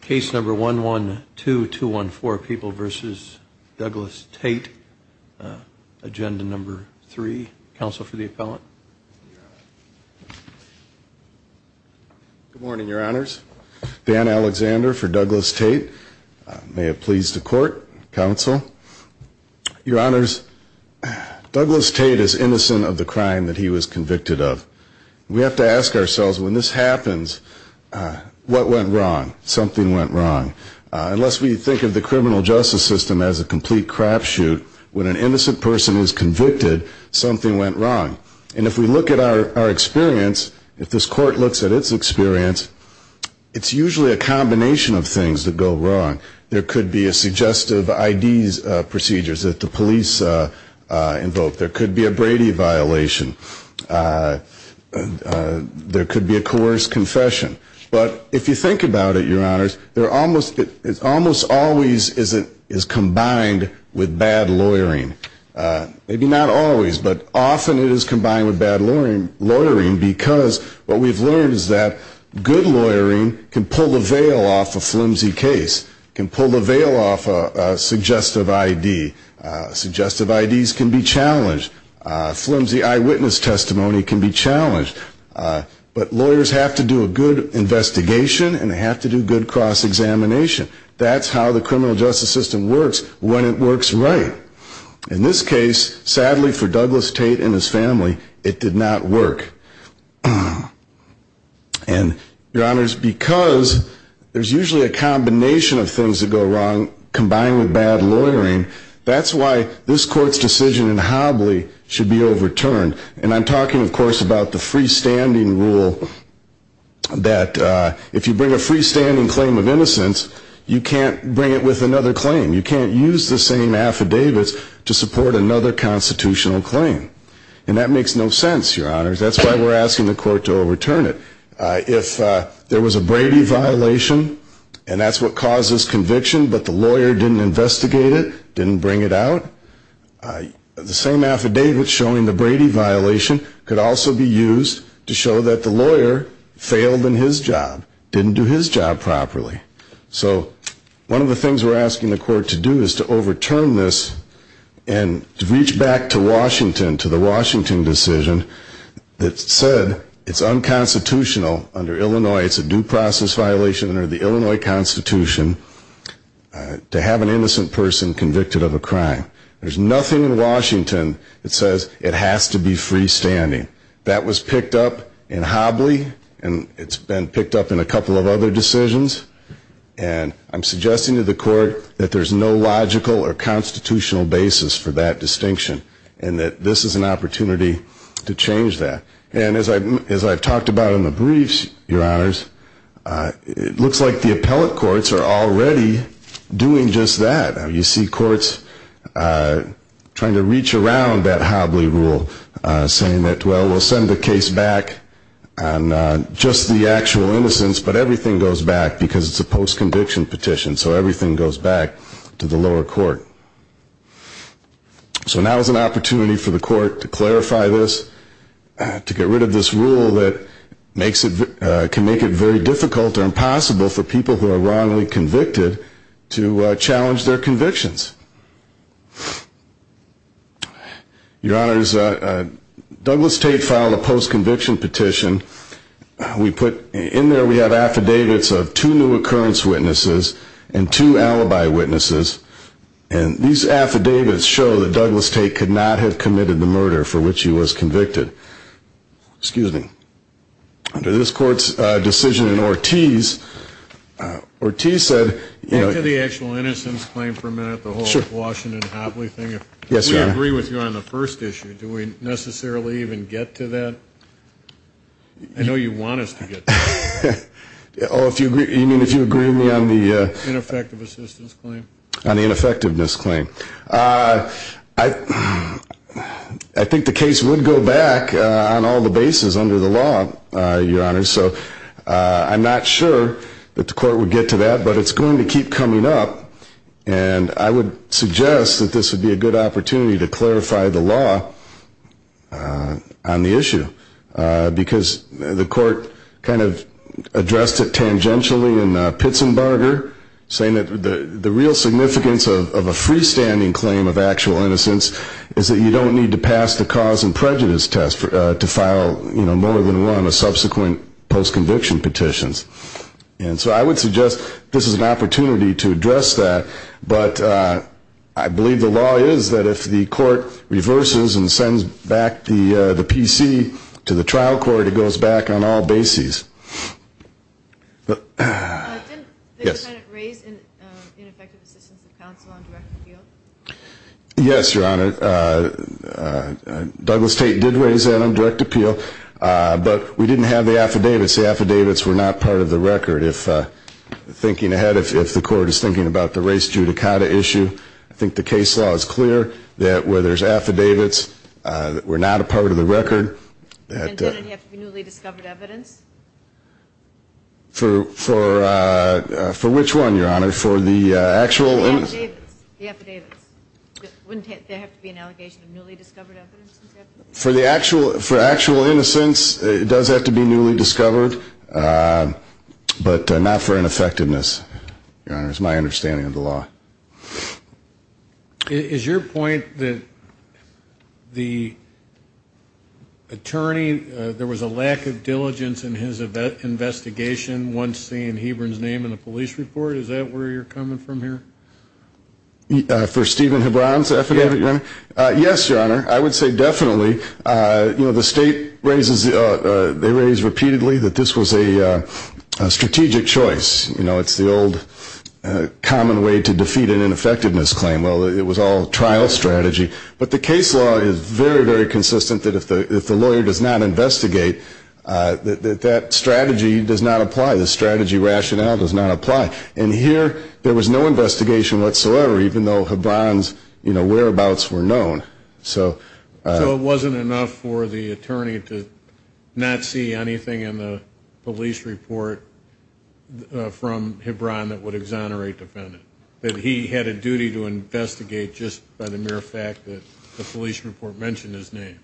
Case number 112214, People v. Douglas Tate. Agenda number three. Counsel for the appellant. Good morning, your honors. Dan Alexander for Douglas Tate. May it please the court, counsel. Your honors, Douglas Tate is innocent of the crime that he was convicted of. We have to ask ourselves, when this happens, what went wrong? Something went wrong. Unless we think of the criminal justice system as a complete crapshoot, when an innocent person is convicted, something went wrong. And if we look at our experience, if this court looks at its experience, it's usually a combination of things that go wrong. There could be a suggestive ID procedures that the police invoke. There could be a Brady violation. There could be a coerced confession. But if you think about it, your honors, it almost always is combined with bad lawyering. Maybe not always, but often it is combined with bad lawyering because what we've learned is that good lawyering can pull the veil off a flimsy case, can pull the veil off a suggestive ID. Suggestive IDs can be challenged. Flimsy eyewitness testimony can be challenged. But lawyers have to do a good investigation and they have to do good cross-examination. That's how the criminal justice system works when it works right. In this case, sadly for Douglas Tate and his family, it did not work. And your honors, because there's usually a combination of things that go wrong combined with bad lawyering, that's why this court's decision in Hobley should be overturned. And I'm talking, of course, about the freestanding rule that if you bring a freestanding claim of innocence, you can't bring it with another claim. You can't use the same affidavits to support another constitutional claim. And that makes no sense, your honors. That's why we're asking the court to overturn it. If there was a Brady violation and that's what caused this conviction, but the lawyer didn't investigate it, didn't bring it out, the same affidavit showing the Brady violation could also be used to show that the lawyer failed in his job, didn't do his job properly. So one of the things we're asking the court to do is to overturn this and to reach back to Washington, to the Washington decision that said it's unconstitutional under Illinois, it's a due process violation under the Illinois Constitution to have an innocent person convicted of a crime. There's nothing in Washington that says it has to be freestanding. That was picked up in Hobley and it's been picked up in a couple of other decisions and I'm suggesting to the court that there's no logical or constitutional basis for that distinction and that this is an opportunity to change that. And as I've talked about in the briefs, your honors, it looks like the appellate courts are already doing just that. You see courts trying to reach around that Hobley rule saying that, well, we'll send the case back on just the actual innocence, but everything goes back because it's a post-conviction petition, so everything goes back to the lower court. So now is an opportunity for the court to clarify this, to get rid of this rule that makes it, can make it very difficult or impossible for people who are wrongly convicted to challenge their convictions. Your honors, Douglas Tate filed a post-conviction petition. We put, in there we have affidavits of two new occurrence witnesses and two alibi witnesses, and the these affidavits show that Douglas Tate could not have committed the murder for which he was convicted. Excuse me. Under this court's decision in Ortiz, Ortiz said, you know... Back to the actual innocence claim for a minute, the whole Washington and Hobley thing. Yes, your honor. We agree with you on the first issue. Do we necessarily even get to that? I know you want us to get to that. Oh, if you agree, you mean if you agree with me on the... Ineffective assistance claim? On the ineffectiveness claim. I think the case would go back on all the bases under the law, your honor, so I'm not sure that the court would get to that, but it's going to keep coming up, and I would suggest that this would be a good opportunity to clarify the law on the issue, because the court kind of addressed it tangentially in Pitzenbarger saying that the real significance of a freestanding claim of actual innocence is that you don't need to pass the cause and prejudice test to file, you know, more than one of subsequent post-conviction petitions, and so I would suggest this is an opportunity to address that, but I believe the law is that if the court reverses and sends back the PC to the trial court, it goes back on all bases. Didn't the defendant raise ineffective assistance of counsel on direct appeal? Yes, your honor. Douglas Tate did raise that on direct appeal, but we didn't have the affidavits. The affidavits were not part of the record. If, thinking ahead, if the court is thinking about the race judicata issue, I think the case law is clear that where there's affidavits that were not a part of the record... Wouldn't there have to be newly discovered evidence? For which one, your honor? For the actual... The affidavits, the affidavits. Wouldn't there have to be an allegation of newly discovered evidence? For the actual, for actual innocence, it does have to be newly discovered, but not for ineffectiveness, your honor, is my understanding of the law. Is your point that the attorney, there was a lack of diligence in his investigation once seeing Hebron's name in the police report? Is that where you're coming from here? For Stephen Hebron's affidavit, your honor? Yes, your honor. I would say definitely. You know, the state raises, they raise repeatedly that this was a strategic choice. You know, it's the old common way to defend yourself from a defeat and ineffectiveness claim. Well, it was all trial strategy. But the case law is very, very consistent that if the lawyer does not investigate, that that strategy does not apply. The strategy rationale does not apply. And here, there was no investigation whatsoever, even though Hebron's whereabouts were known. So it wasn't enough for the attorney to not see anything in the police report from Hebron that would exonerate the defendant, that he had a duty to investigate just by the mere fact that the police report mentioned his name.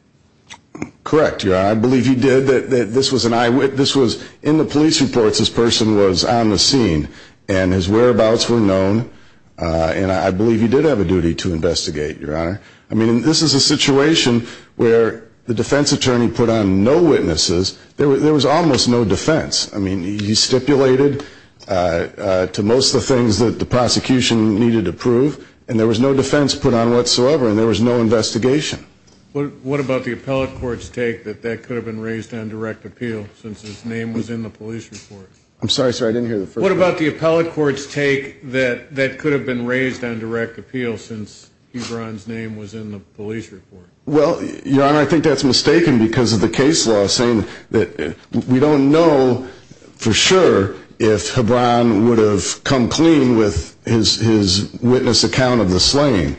Correct, your honor. I believe he did. This was in the police reports. This person was on the scene, and his whereabouts were known. And I believe he did have a duty to investigate, your honor. I mean, this is a situation where the defense attorney put on no witnesses. There was almost no defense. I mean, he stipulated to most of the things that the prosecution needed to prove, and there was no defense put on whatsoever, and there was no investigation. What about the appellate court's take that that could have been raised on direct appeal since his name was in the police report? I'm sorry, sir, I didn't hear the first part. What about the appellate court's take that that could have been raised on direct appeal since Hebron's name was in the police report? Well, your honor, I think that's mistaken because of the case law saying that we don't know for sure if Hebron would have come clean with his witness account of the slaying.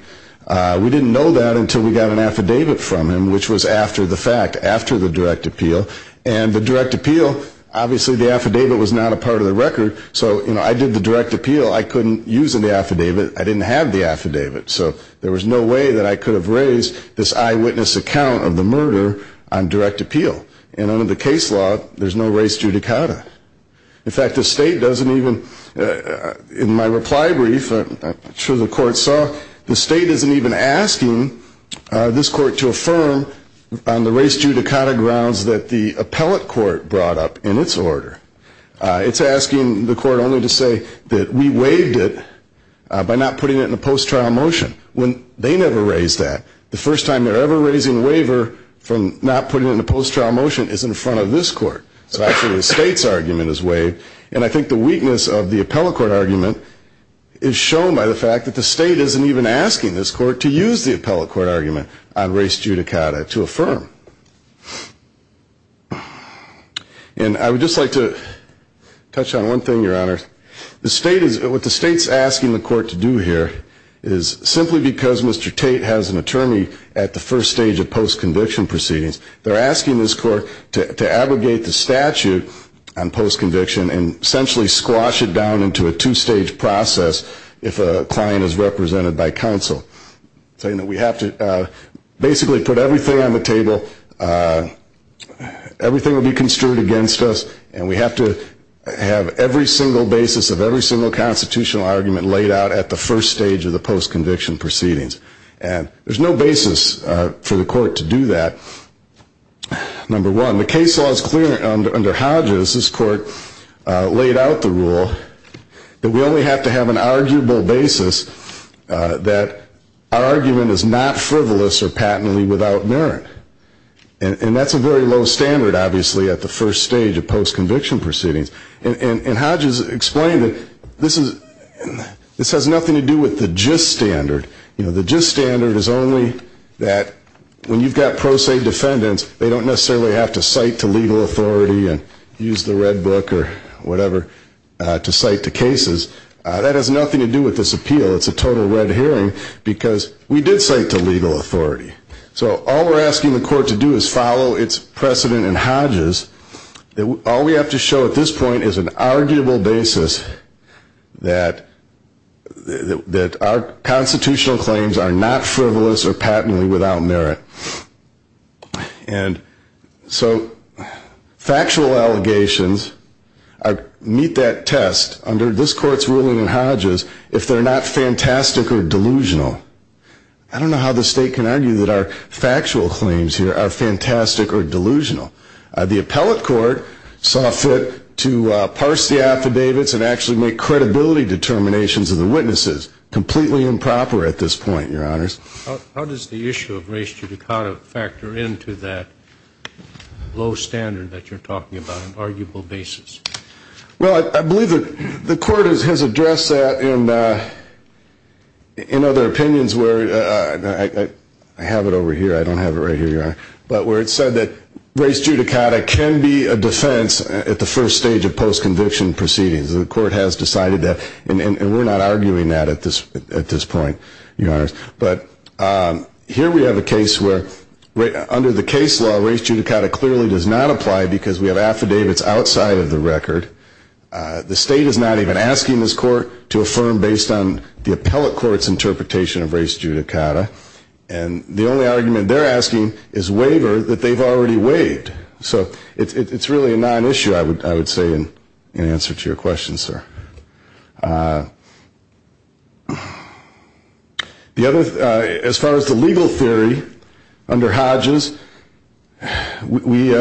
We didn't know that until we got an affidavit from him, which was after the fact, after the direct appeal. And the direct appeal, obviously the affidavit was not a part of the record, so I did the direct appeal. I couldn't use the affidavit. I didn't have the affidavit, so there was no way that I could have raised this eyewitness account of the murder on direct appeal. And under the case law, there's no res judicata. In fact, the state doesn't even, in my reply brief, I'm sure the court saw, the state isn't even asking this court to affirm on the res judicata grounds that the appellate court brought up in its order. It's asking the court only to say that we waived it by not putting it in a post-trial motion, when they never raised that. The first time they're ever raising a waiver from not putting it in a post-trial motion is in front of this court. So actually the state's argument is waived, and I think the weakness of the appellate court argument is shown by the fact that the state isn't even asking this court to use the appellate court argument on res judicata to affirm. And I would just like to touch on one thing, Your Honor. The state is, what the state's asking the court to do here is, simply because Mr. Tate has an attorney at the first stage of post-conviction proceedings, they're asking this court to abrogate the statute on post-conviction and essentially squash it down into a two-stage process if a client is represented by counsel. Saying that we have to basically put everything on the table, everything will be construed against us, and we have to have every single basis of every single constitutional argument laid out at the first stage of the post-conviction proceedings. And there's no basis for the court to do that. Number one, the case law is clear under Hodges. This court laid out the rule that we only have to have an arguable basis that our argument is not frivolous or patently without merit. And that's a very low standard, obviously, at the first stage of post-conviction proceedings. And Hodges explained that this has nothing to do with the gist standard. The gist standard is only that when you've got pro se defendants, they don't necessarily have to cite to legal authority and use the red book or whatever to cite to cases. That has nothing to do with this appeal. It's a total red herring, because we did cite to legal authority. So all we're asking the court to do is follow its precedent in Hodges. All we have to show at this point is an arguable basis that our constitutional claims are not frivolous or patently without merit. And so factual allegations meet that test under this court's ruling in Hodges if they're not fantastic or delusional. I don't know how the state can argue that our factual claims here are fantastic or delusional. The appellate court saw fit to parse the affidavits and actually make credibility determinations of the witnesses. Completely improper at this point, Your Honors. How does the issue of race judicata factor into that low standard that you're talking about, an arguable basis? Well, I believe that the court has addressed that in other opinions where, I have it over here, I don't have it right here, Your Honor, but where it said that race judicata can be a defense at the first stage of post-conviction proceedings. The court has decided that, and we're not arguing that at this point, Your Honors. But here we have a case where under the case law, race judicata clearly does not apply because we have affidavits outside of the record. The state is not even asking this court to affirm based on the appellate court's interpretation of race judicata. And the only argument they're asking is waiver that they've already waived. So it's really a non-issue, I would say, in answer to your question, sir. As far as the legal theory, under Hodges, we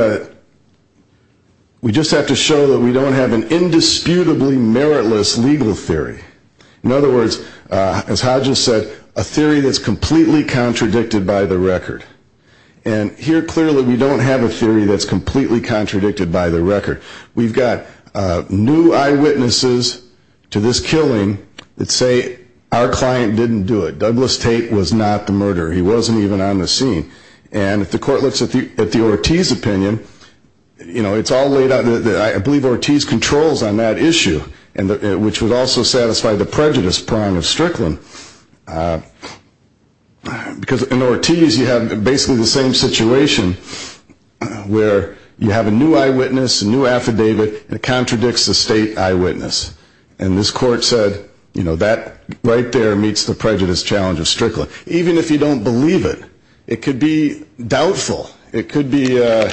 just have to show that we don't have an indisputably meritless legal theory. In other words, as Hodges said, a theory that's completely contradicted by the record. And here, clearly, we don't have a theory that's completely contradicted by the record. We've got new eyewitnesses to this case that are saying this killing, let's say our client didn't do it. Douglas Tate was not the murderer. He wasn't even on the scene. And if the court looks at the Ortiz opinion, it's all laid out. I believe Ortiz controls on that issue, which would also satisfy the prejudice prong of Strickland. Because in Ortiz, you have basically the same situation where you have a new eyewitness, a new affidavit that contradicts the state eyewitness. And this court said, that right there meets the prejudice challenge of Strickland. Even if you don't believe it, it could be doubtful. It could be a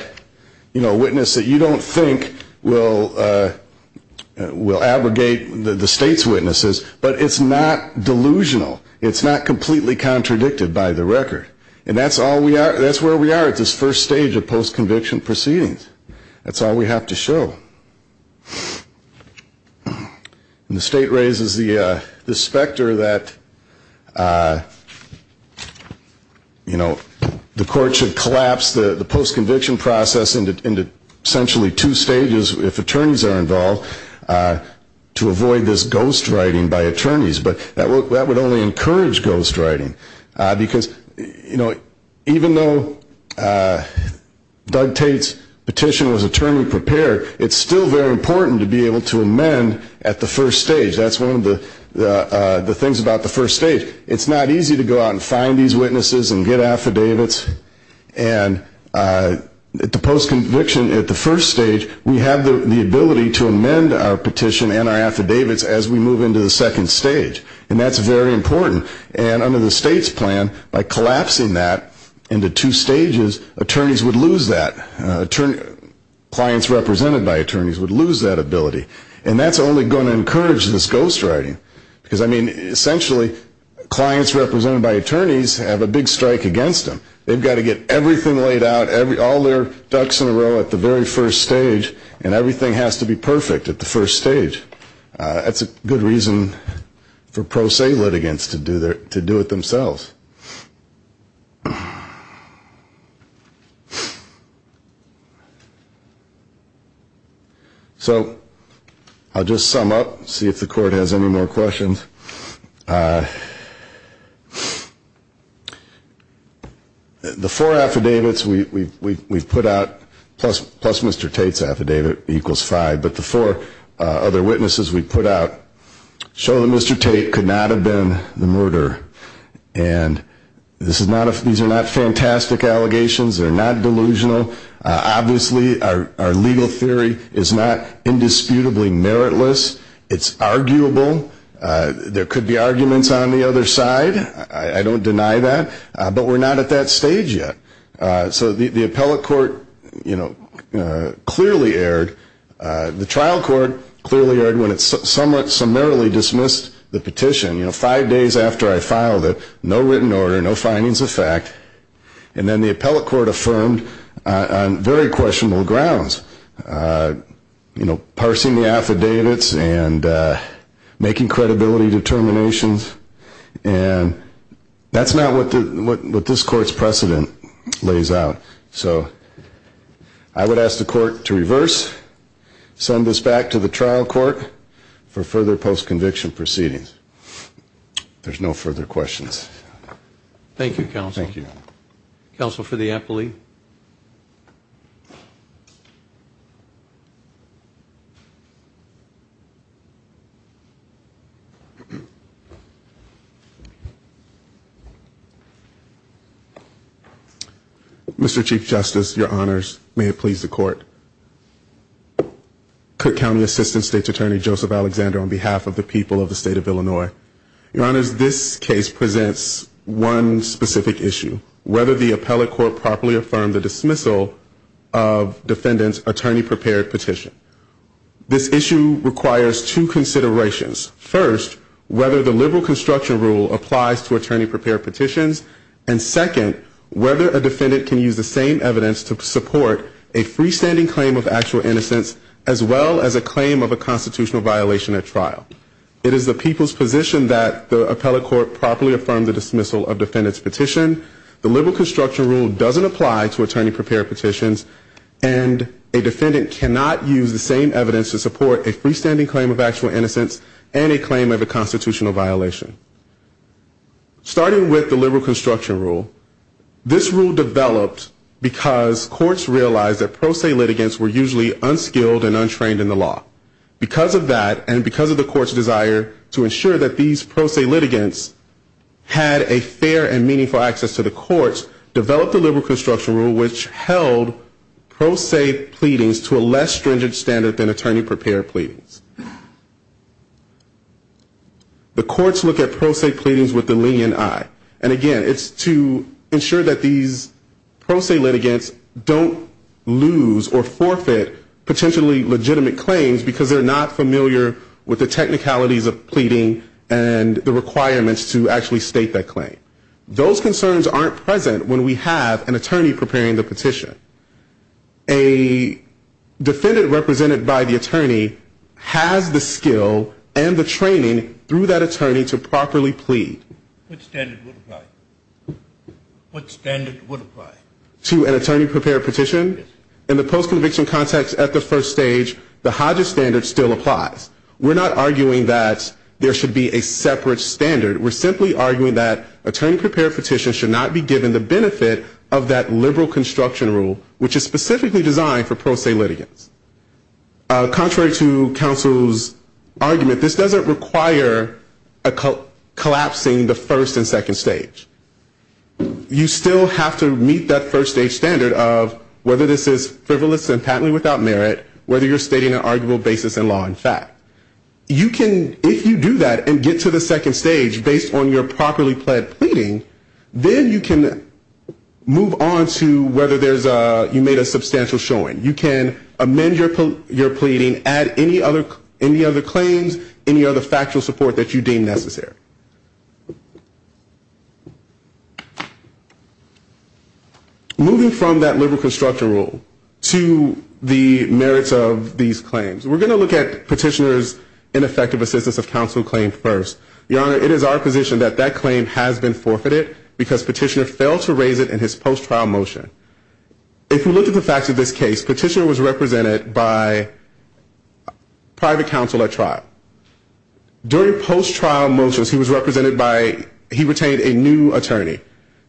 witness that you don't think will abrogate the state's witnesses. But it's not delusional. It's not completely contradicted by the record. And that's where we are at this first stage of post-conviction proceedings. That's all we have to show. And the state raises the specter that, you know, the court should collapse the post-conviction process into essentially two stages, if attorneys are involved, to avoid this ghost writing by attorneys. But that would only encourage ghost writing. Because, you know, even though Doug Tate's petition was attorney-prepared, it's still very important to be able to amend at the first stage. That's one of the things about the first stage. It's not easy to go out and find these witnesses and get affidavits. And at the post-conviction, at the first stage, we have the ability to amend our petition and our affidavits as we move into the second stage. And that's very important. And under the state's plan, by collapsing that into two stages, attorneys would lose that. Clients represented by attorneys would lose that ability. And that's only going to encourage this ghost writing. Because, I mean, essentially, clients represented by attorneys have a big strike against them. They've got to get everything laid out, all their ducks in a row at the very first stage. And everything has to be perfect at the first stage. That's a good reason for pro se litigants to do it themselves. So I'll just sum up, see if the court has any more questions. The four affidavits we've put out, plus Mr. Tate's affidavit, equals five. But the four other witnesses we put out show that Mr. Tate could not have been the murderer. And these are not fantastic allegations. They're not delusional. Obviously, our legal theory is not indisputably meritless. It's arguable. There could be arguments on the other side. I don't deny that. But we're not at that stage yet. So the appellate court clearly erred. The trial court clearly erred when it summarily dismissed the petition. Five days after I filed it, no written order, no findings of fact. And then the appellate court affirmed on very questionable grounds, parsing the affidavits and making credibility determinations. And that's not what this court's precedent lays out. So I would ask the court to reverse. Send this back to the trial court for further post-conviction proceedings. There's no further questions. Thank you, counsel. Counsel for the appellate. Mr. Chief Justice, your honors. May it please the court. Cook County Assistant State's Attorney Joseph Alexander on behalf of the people of the state of Illinois. Your honors, this case presents one specific issue. Whether the appellate court properly affirmed the dismissal of defendant's attorney-prepared petition. This issue requires two considerations. First, whether the liberal construction rule applies to attorney-prepared petitions. And second, whether a defendant can use the same evidence to support a freestanding claim of actual innocence, as well as a claim of a constitutional violation at trial. It is the people's position that the appellate court properly affirmed the dismissal of defendant's petition. The liberal construction rule doesn't apply to attorney-prepared petitions. And a defendant cannot use the same evidence to support a freestanding claim of actual innocence and a claim of a constitutional violation. Starting with the liberal construction rule, this rule developed because courts realized that pro se litigants were usually unskilled and untrained in the law. Because of that and because of the court's desire to ensure that these pro se litigants had a fair and meaningful access to the courts, developed the liberal construction rule which held pro se pleadings to a less stringent standard than attorney-prepared pleadings. The courts look at pro se pleadings with the lenient eye. And again, it's to ensure that these pro se litigants don't lose or forfeit potentially legitimate claims because they're not familiar with the technicalities of pleading and the requirements to actually state that claim. Those concerns aren't present when we have an attorney preparing the petition. A defendant represented by the attorney has the skill and the training through that attorney to properly plead. What standard would apply? To an attorney-prepared petition? In the post-conviction context at the first stage, the Hodges standard still applies. We're not arguing that there should be a separate standard. We're simply arguing that attorney-prepared petitions should not be given the benefit of that liberal construction rule which is specifically designed for pro se litigants. Contrary to counsel's argument, this doesn't require collapsing the first and second stage. You still have to meet that first-stage standard of whether this is frivolous and patently without merit, whether you're stating an arguable basis in law and fact. If you do that and get to the second stage based on your properly pled pleading, then you can move on to whether you made a substantial showing. You can amend your pleading, add any other claims, any other factual support that you deem necessary. Moving from that liberal construction rule to the merits of these claims, we're going to look at petitioner's ineffective assistance of counsel claim first. Your Honor, it is our position that that claim has been forfeited because petitioner failed to raise it in his post-trial motion. If you look at the facts of this case, petitioner was represented by private counsel at trial. During post-trial motions, he was represented by, he retained a new attorney.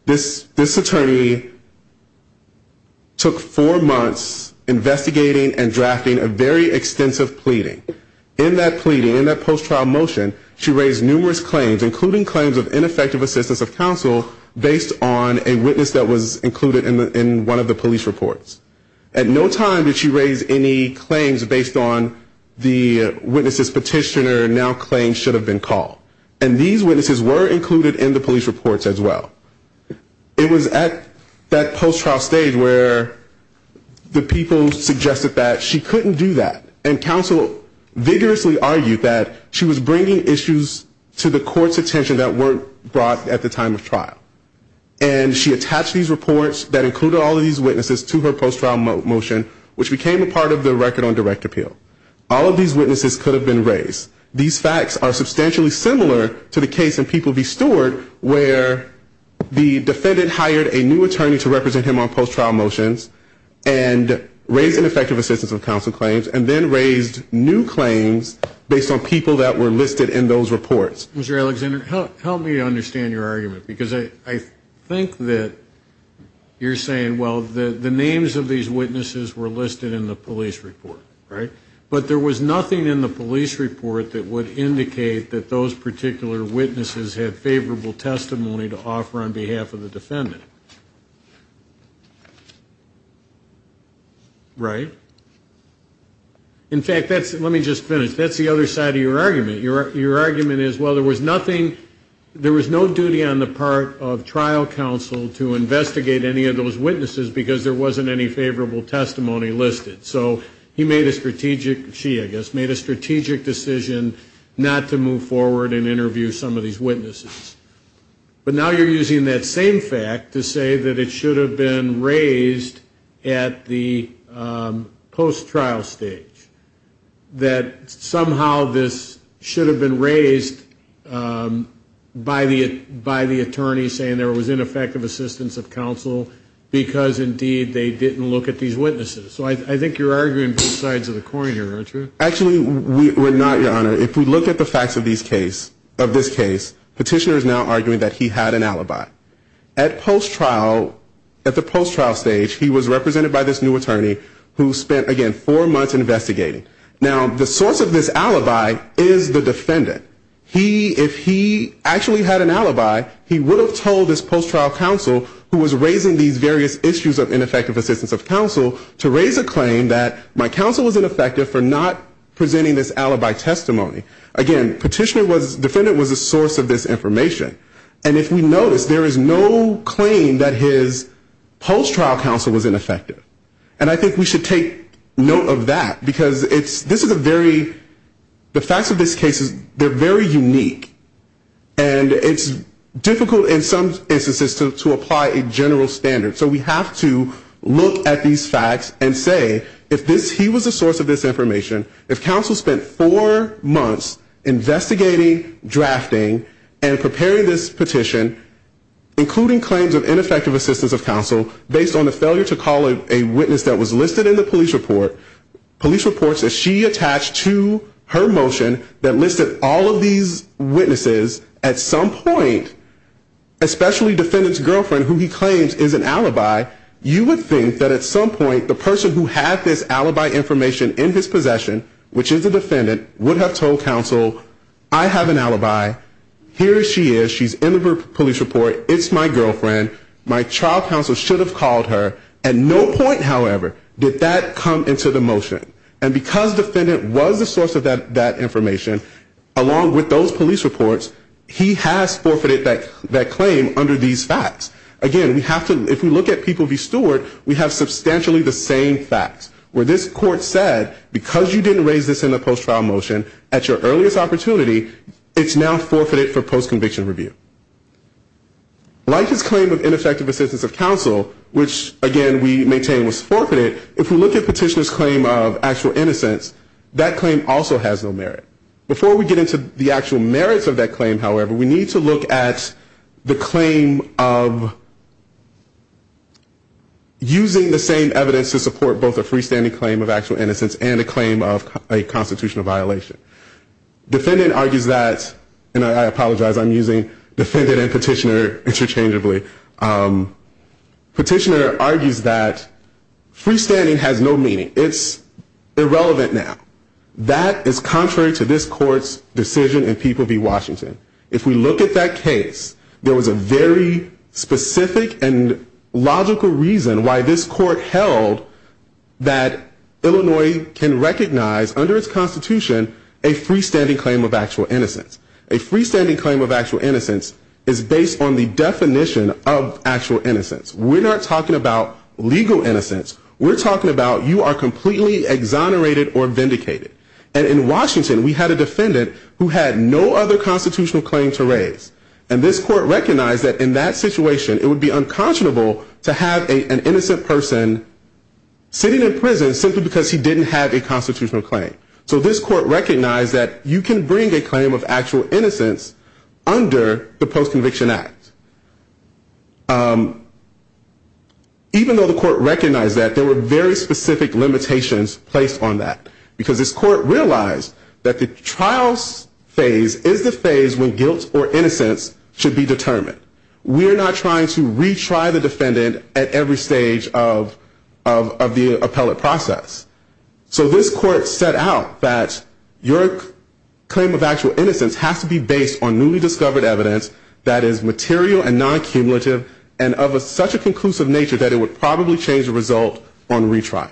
This attorney took four months investigating and drafting a very extensive pleading. In that pleading, in that post-trial motion, she raised numerous claims, including claims of ineffective assistance of counsel based on a witness that was included in one of the police reports. At no time did she raise any claims based on the witness's petitioner, now claims should have been called. And these witnesses were included in the police reports as well. It was at that post-trial stage where the people suggested that she couldn't do that, and counsel vigorously argued that she was bringing issues to the court's attention that weren't brought at the time of trial. And she attached these reports that included all of these witnesses to her post-trial motion, which became a part of the record on direct appeal. All of these witnesses could have been raised. These facts are substantially similar to the case in People v. Stewart, where the defendant hired a new attorney to represent him on post-trial motions, and raised ineffective assistance of counsel claims, and then raised new claims based on people that were listed in those reports. Mr. Alexander, help me understand your argument, because I think that you're saying, well, the names of these witnesses were listed in the police report, right? But there was nothing in the police report that would indicate that those particular witnesses had favorable testimony to offer on behalf of the defendant. Right? In fact, that's, let me just finish, that's the other side of your argument. Your argument is, well, there was nothing, there was no duty on the part of trial counsel to investigate any of those witnesses, because there wasn't any favorable testimony listed. So he made a strategic, she, I guess, made a strategic decision not to move forward and interview some of these witnesses. But now you're using that same fact to say that it should have been raised at the, post-trial stage, that somehow this should have been raised by the attorney saying there was ineffective assistance of counsel, because indeed they didn't look at these witnesses. So I think you're arguing both sides of the coin here, aren't you? Actually, we're not, Your Honor. If we look at the facts of these case, of this case, petitioner is now arguing that he had an alibi. At post-trial, at the post-trial stage, he was represented by this new attorney who spent, again, four months investigating. Now, the source of this alibi is the defendant. He, if he actually had an alibi, he would have told this post-trial counsel who was raising these various issues of ineffective assistance of counsel to raise a claim that my counsel was ineffective for not presenting this alibi testimony. Again, petitioner was, defendant was a source of this information. And if we notice, there is no claim that his post-trial counsel was ineffective. And I think we should take note of that, because it's, this is a very, the facts of this case, they're very unique. And it's difficult in some instances to apply a general standard. So we have to look at these facts and say, if this, he was a source of this information, if counsel spent four months investigating, drafting, and preparing this petition, including claims of ineffective assistance of counsel, based on the failure to call a witness that was listed in the police report, police reports that she attached to her motion that listed all of these witnesses, at some point, especially defendant's girlfriend, who he claims is an alibi, you would think that at some point, the person who had this alibi information in his possession, which is the defendant, would have told counsel, I have an alibi, here she is, she's in the police report, it's my girlfriend, my trial counsel should have called her, at no point, however, did that come into the motion. And because defendant was a source of that information, along with those police reports, he has forfeited that claim under these facts. Again, we have to, if we look at people v. Stewart, we have substantially the same facts. Where this court said, because you didn't raise this in the post-trial motion at your earliest opportunity, it's now forfeited for post-conviction review. Like his claim of ineffective assistance of counsel, which, again, we maintain was forfeited, if we look at petitioner's claim of actual innocence, that claim also has no merit. Before we get into the actual merits of that claim, however, we need to look at the claim of using the same evidence to support both a freestanding claim of actual innocence and a claim of a constitutional violation. Defendant argues that, and I apologize, I'm using defendant and petitioner interchangeably. Petitioner argues that freestanding has no meaning. It's irrelevant now. That is contrary to this court's decision in people v. Washington. If we look at that case, there was a very specific and logical reason why this court held that Illinois can recognize under its constitution a freestanding claim of actual innocence. A freestanding claim of actual innocence is based on the definition of actual innocence. We're not talking about legal innocence. We're talking about you are completely exonerated or vindicated. And in Washington we had a defendant who had no other constitutional claim to raise. And this court recognized that in that situation it would be unconscionable to have an innocent person sitting in prison simply because he didn't have a constitutional claim. So this court recognized that you can bring a claim of actual innocence under the Post-Conviction Act. Even though the court recognized that, there were very specific limitations placed on that. Because this court realized that the trial phase is the phase when guilt or innocence should be determined. We're not trying to retry the defendant at every stage of the appellate process. So this court set out that your claim of actual innocence has to be based on newly discovered evidence that is material and non-cumulative and of such a conclusive nature that it would probably change the result on retrial.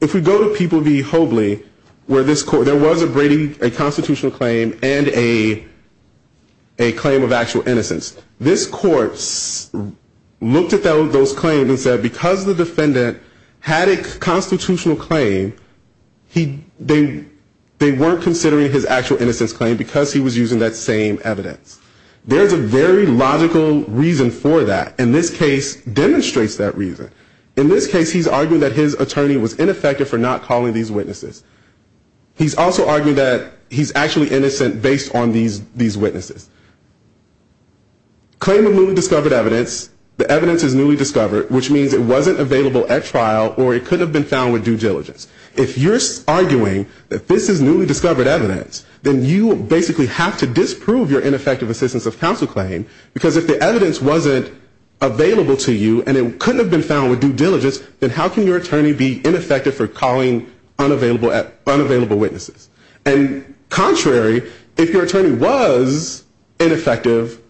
If we go to People v. Hobley, where there was a constitutional claim and a claim of actual innocence, this court looked at those claims and said because the defendant had a constitutional claim, they weren't considering his actual innocence claim because he was using that same evidence. There's a very logical reason for that. And this case demonstrates that reason. In this case he's arguing that his attorney was ineffective for not calling these witnesses. He's also arguing that he's actually innocent based on these witnesses. Claim of newly discovered evidence, the evidence is newly discovered, which means it wasn't available at trial or it couldn't have been found with due diligence. If you're arguing that this is newly discovered evidence, then you basically have to disprove your ineffective assistance of counsel claim because if the evidence wasn't available to you and it couldn't have been found with due diligence, then how can your attorney be ineffective for calling unavailable witnesses? And contrary, if your attorney was ineffective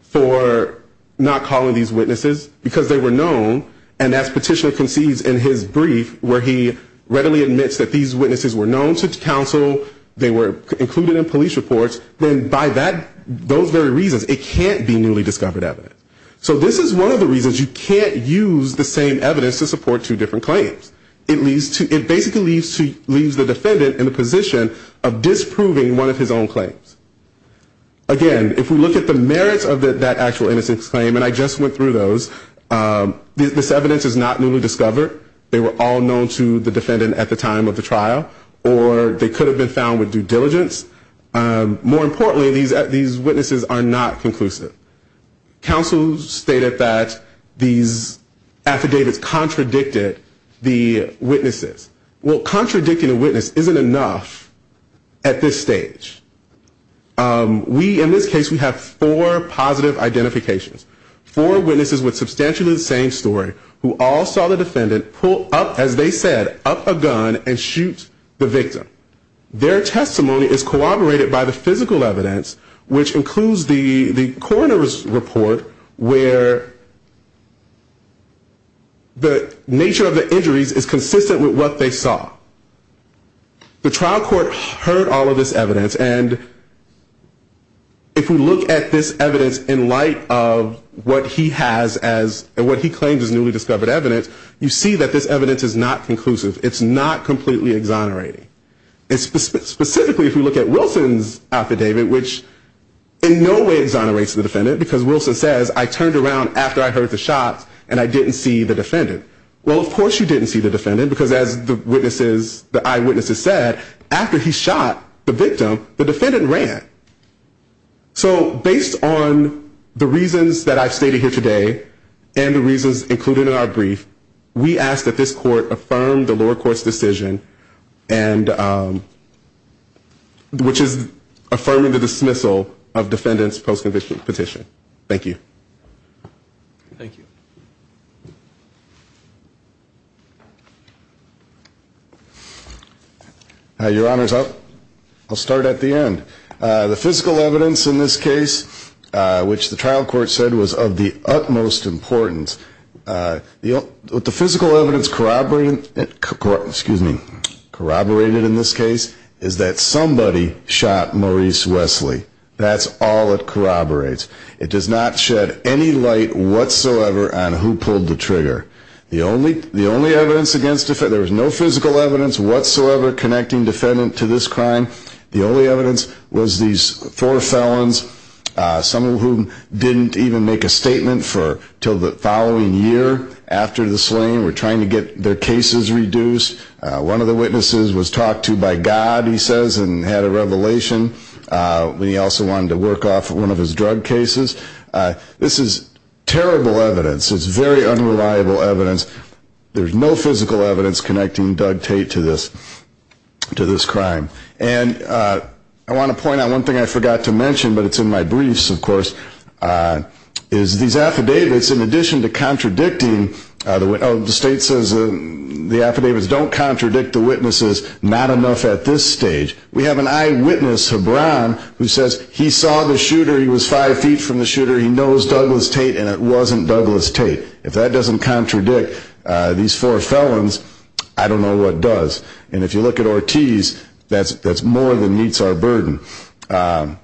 for not calling these witnesses because they were known, and as Petitioner concedes in his brief where he readily admits that these witnesses were known to counsel, they were included in police reports, then by those very reasons it can't be newly discovered evidence. So this is one of the reasons you can't use the same evidence to support two different claims. It basically leaves the defendant in the position of disproving one of his own claims. Again, if we look at the merits of that actual innocence claim, and I just went through those, this evidence is not newly discovered, they were all known to the defendant at the time of the trial, or they could have been found with due diligence. More importantly, these witnesses are not conclusive. Counsel stated that these affidavits contradicted the witnesses. Well, contradicting a witness isn't enough at this stage. We, in this case, we have four positive identifications. Four witnesses with substantially the same story who all saw the defendant pull up, as they said, up a gun and shoot the victim. Their testimony is corroborated by the physical evidence, which includes the coroner's report, where the nature of the injuries is consistent with what they saw. The trial court heard all of this evidence, and if we look at this evidence in light of what he has as, and what he claims is newly discovered evidence, you see that this evidence is not conclusive. It's not completely exonerating. Specifically, if we look at Wilson's affidavit, which in no way exonerates the defendant, because Wilson says, I turned around after I heard the shots, and I didn't see the defendant. Well, of course you didn't see the defendant, because as the eyewitnesses said, after he shot the victim, the defendant ran. So based on the reasons that I've stated here today, and the reasons included in our brief, we ask that this court affirm the lower court's decision, which is affirming the dismissal of defendant's post-conviction petition. Thank you. Thank you. Your Honor, I'll start at the end. The physical evidence in this case, which the trial court said was of the utmost importance, the physical evidence corroborated in this case is that somebody shot Maurice Wesley. That's all it corroborates. It does not shed any light whatsoever on who pulled the trigger. There was no physical evidence whatsoever connecting defendant to this crime. The only evidence was these four felons, some of whom didn't even make a statement until the following year after the slaying, were trying to get their cases reduced. One of the witnesses was talked to by God, he says, and had a revelation. He also wanted to work off one of his drug cases. This is terrible evidence. It's very unreliable evidence. There's no physical evidence connecting Doug Tate to this crime. I want to point out one thing I forgot to mention, but it's in my briefs, of course, is these affidavits, in addition to contradicting the witnesses, the state says the affidavits don't contradict the witnesses, not enough at this stage. We have an eyewitness, Hebron, who says he saw the shooter, he was five feet from the shooter, he knows Douglas Tate, and it wasn't Douglas Tate. If that doesn't contradict these four felons, I don't know what does. If you look at Ortiz, that's more than meets our burden. The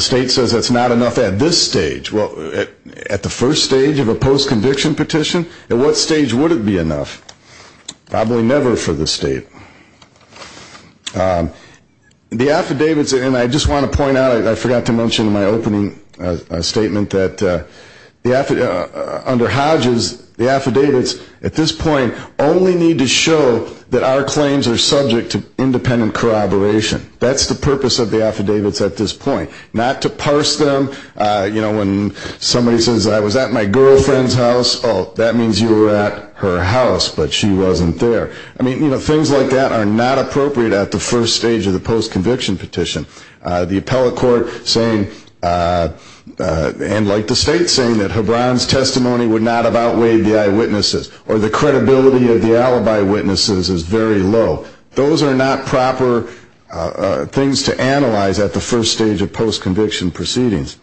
state says that's not enough at this stage. At the first stage of a post-conviction petition, at what stage would it be enough? Probably never for the state. The affidavits, and I just want to point out, I forgot to mention in my opening statement that under Hodges, the affidavits at this point only need to show that our claims are subject to independent corroboration. That's the purpose of the affidavits at this point. Not to parse them. When somebody says, I was at my girlfriend's house, that means you were at her house, but she wasn't there. Things like that are not appropriate at the first stage of the post-conviction petition. The appellate court, and like the state, saying that Hebron's testimony would not have outweighed the eyewitnesses, or the credibility of the alibi witnesses is very low. Those are not proper things to analyze at the first stage of post-conviction proceedings.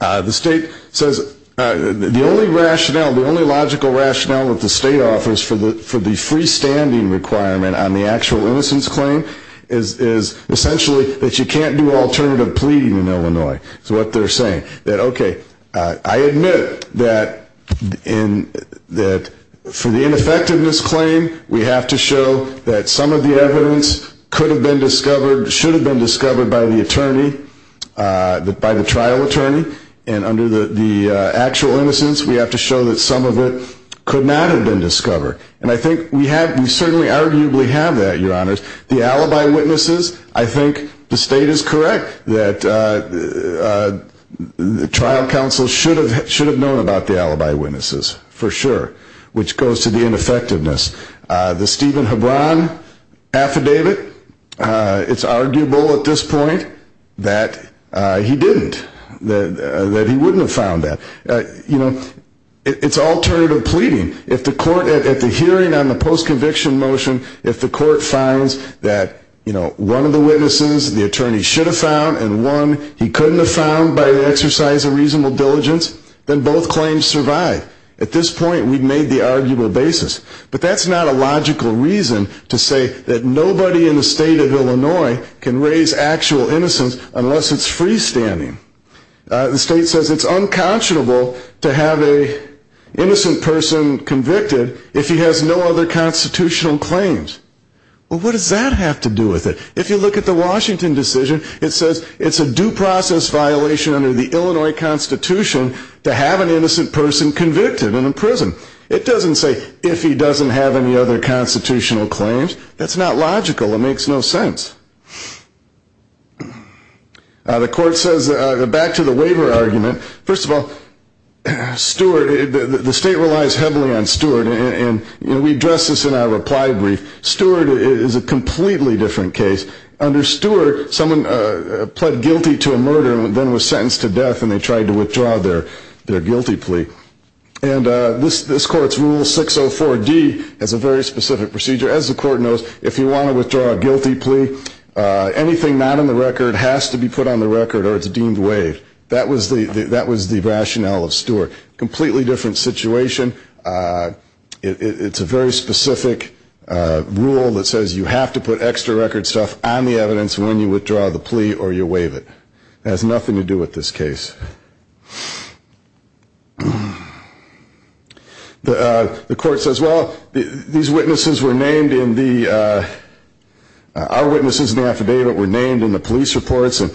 The state says the only rationale, the only logical rationale that the state offers for the freestanding requirement on the actual innocence claim, is essentially that you can't do alternative pleading in Illinois. That's what they're saying. I admit that for the ineffectiveness claim, we have to show that some of the evidence could have been discovered, should have been discovered by the trial attorney. And under the actual innocence, we have to show that some of it could not have been discovered. And I think we certainly arguably have that, Your Honors. The alibi witnesses, I think the state is correct. The trial counsel should have known about the alibi witnesses, for sure. Which goes to the ineffectiveness. The Stephen Hebron affidavit, it's arguable at this point that he didn't. That he wouldn't have found that. It's alternative pleading. At the hearing on the post-conviction motion, if the court finds that one of the witnesses the attorney should have found, and one he couldn't have found by the exercise of reasonable diligence, then both claims survive. At this point, we've made the arguable basis. But that's not a logical reason to say that nobody in the state of Illinois can raise actual innocence unless it's freestanding. The state says it's unconscionable to have an innocent person convicted if he has no other constitutional claims. Well, what does that have to do with it? If you look at the Washington decision, it says it's a due process violation under the Illinois Constitution to have an innocent person convicted and in prison. It doesn't say if he doesn't have any other constitutional claims. That's not logical. It makes no sense. The court says, back to the waiver argument, first of all, Stewart, the state relies heavily on Stewart, and we address this in our reply brief. Stewart is a completely different case. Under Stewart, someone pled guilty to a murder and then was sentenced to death and they tried to withdraw their guilty plea. And this court's Rule 604D has a very specific procedure. As the court knows, if you want to withdraw a guilty plea, anything not on the record has to be put on the record or it's deemed waived. That was the rationale of Stewart. Completely different situation. It's a very specific rule that says you have to put extra record stuff on the evidence when you withdraw the plea or you waive it. It has nothing to do with this case. The court says, well, these witnesses were named in the... Our witnesses in the affidavit were named in the police reports and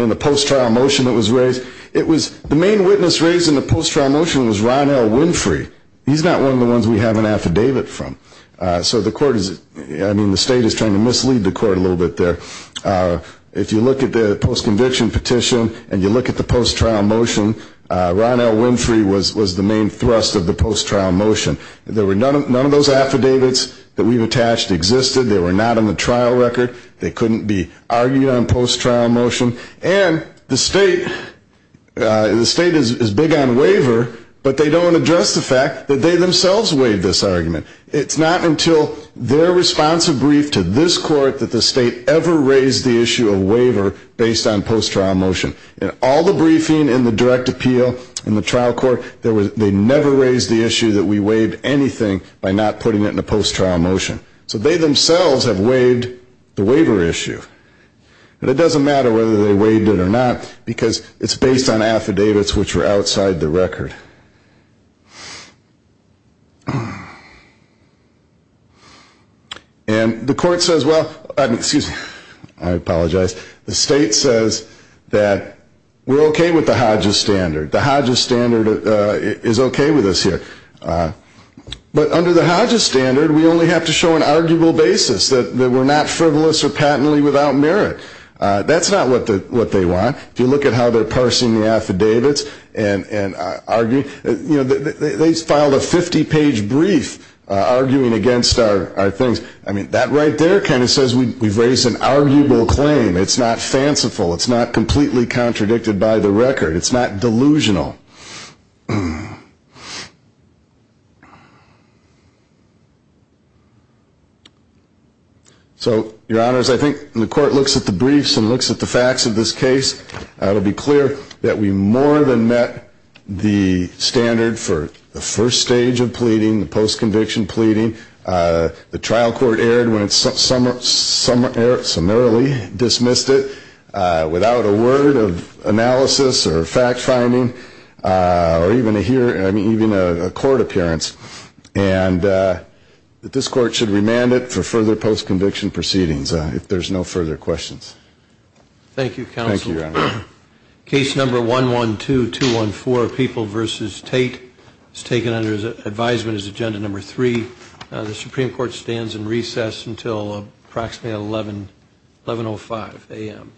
in the post-trial motion that was raised. The main witness raised in the post-trial motion was Ron L. Winfrey. He's not one of the ones we have an affidavit from. The state is trying to mislead the court a little bit there. If you look at the post-conviction petition and you look at the post-trial motion, Ron L. Winfrey was the main thrust of the post-trial motion. None of those affidavits that we've attached existed. They were not on the trial record. They couldn't be argued on post-trial motion. And the state is big on waiver, but they don't address the fact that they themselves waived this argument. It's not until their responsive brief to this court that the state ever raised the issue of waiver based on post-trial motion. In all the briefing, in the direct appeal, in the trial court, they never raised the issue that we waived anything by not putting it in a post-trial motion. So they themselves have waived the waiver issue. And it doesn't matter whether they waived it or not, because it's based on affidavits which are outside the record. And the court says, well, excuse me, I apologize, the state says that we're okay with the Hodges standard. The Hodges standard is okay with us here. But under the Hodges standard, we only have to show an arguable basis, that we're not frivolous or patently without merit. That's not what they want. If you look at how they're parsing the affidavits and arguing, you know, they filed a 50-page brief arguing against our things. I mean, that right there kind of says we've raised an arguable claim. It's not fanciful. It's not completely contradicted by the record. It's not delusional. So, your honors, I think the court looks at the briefs and looks at the facts of this case. It'll be clear that we more than met the standard for the first stage of pleading, the post-conviction pleading. The trial court erred when it summarily dismissed it. Without a word of analysis or fact-finding, or even a court appearance. And this court should remand it for further post-conviction proceedings, if there's no further questions. Thank you, counsel. Case number 112214, People v. Tate, is taken under advisement as agenda number three. The Supreme Court stands in recess until approximately 1105 a.m.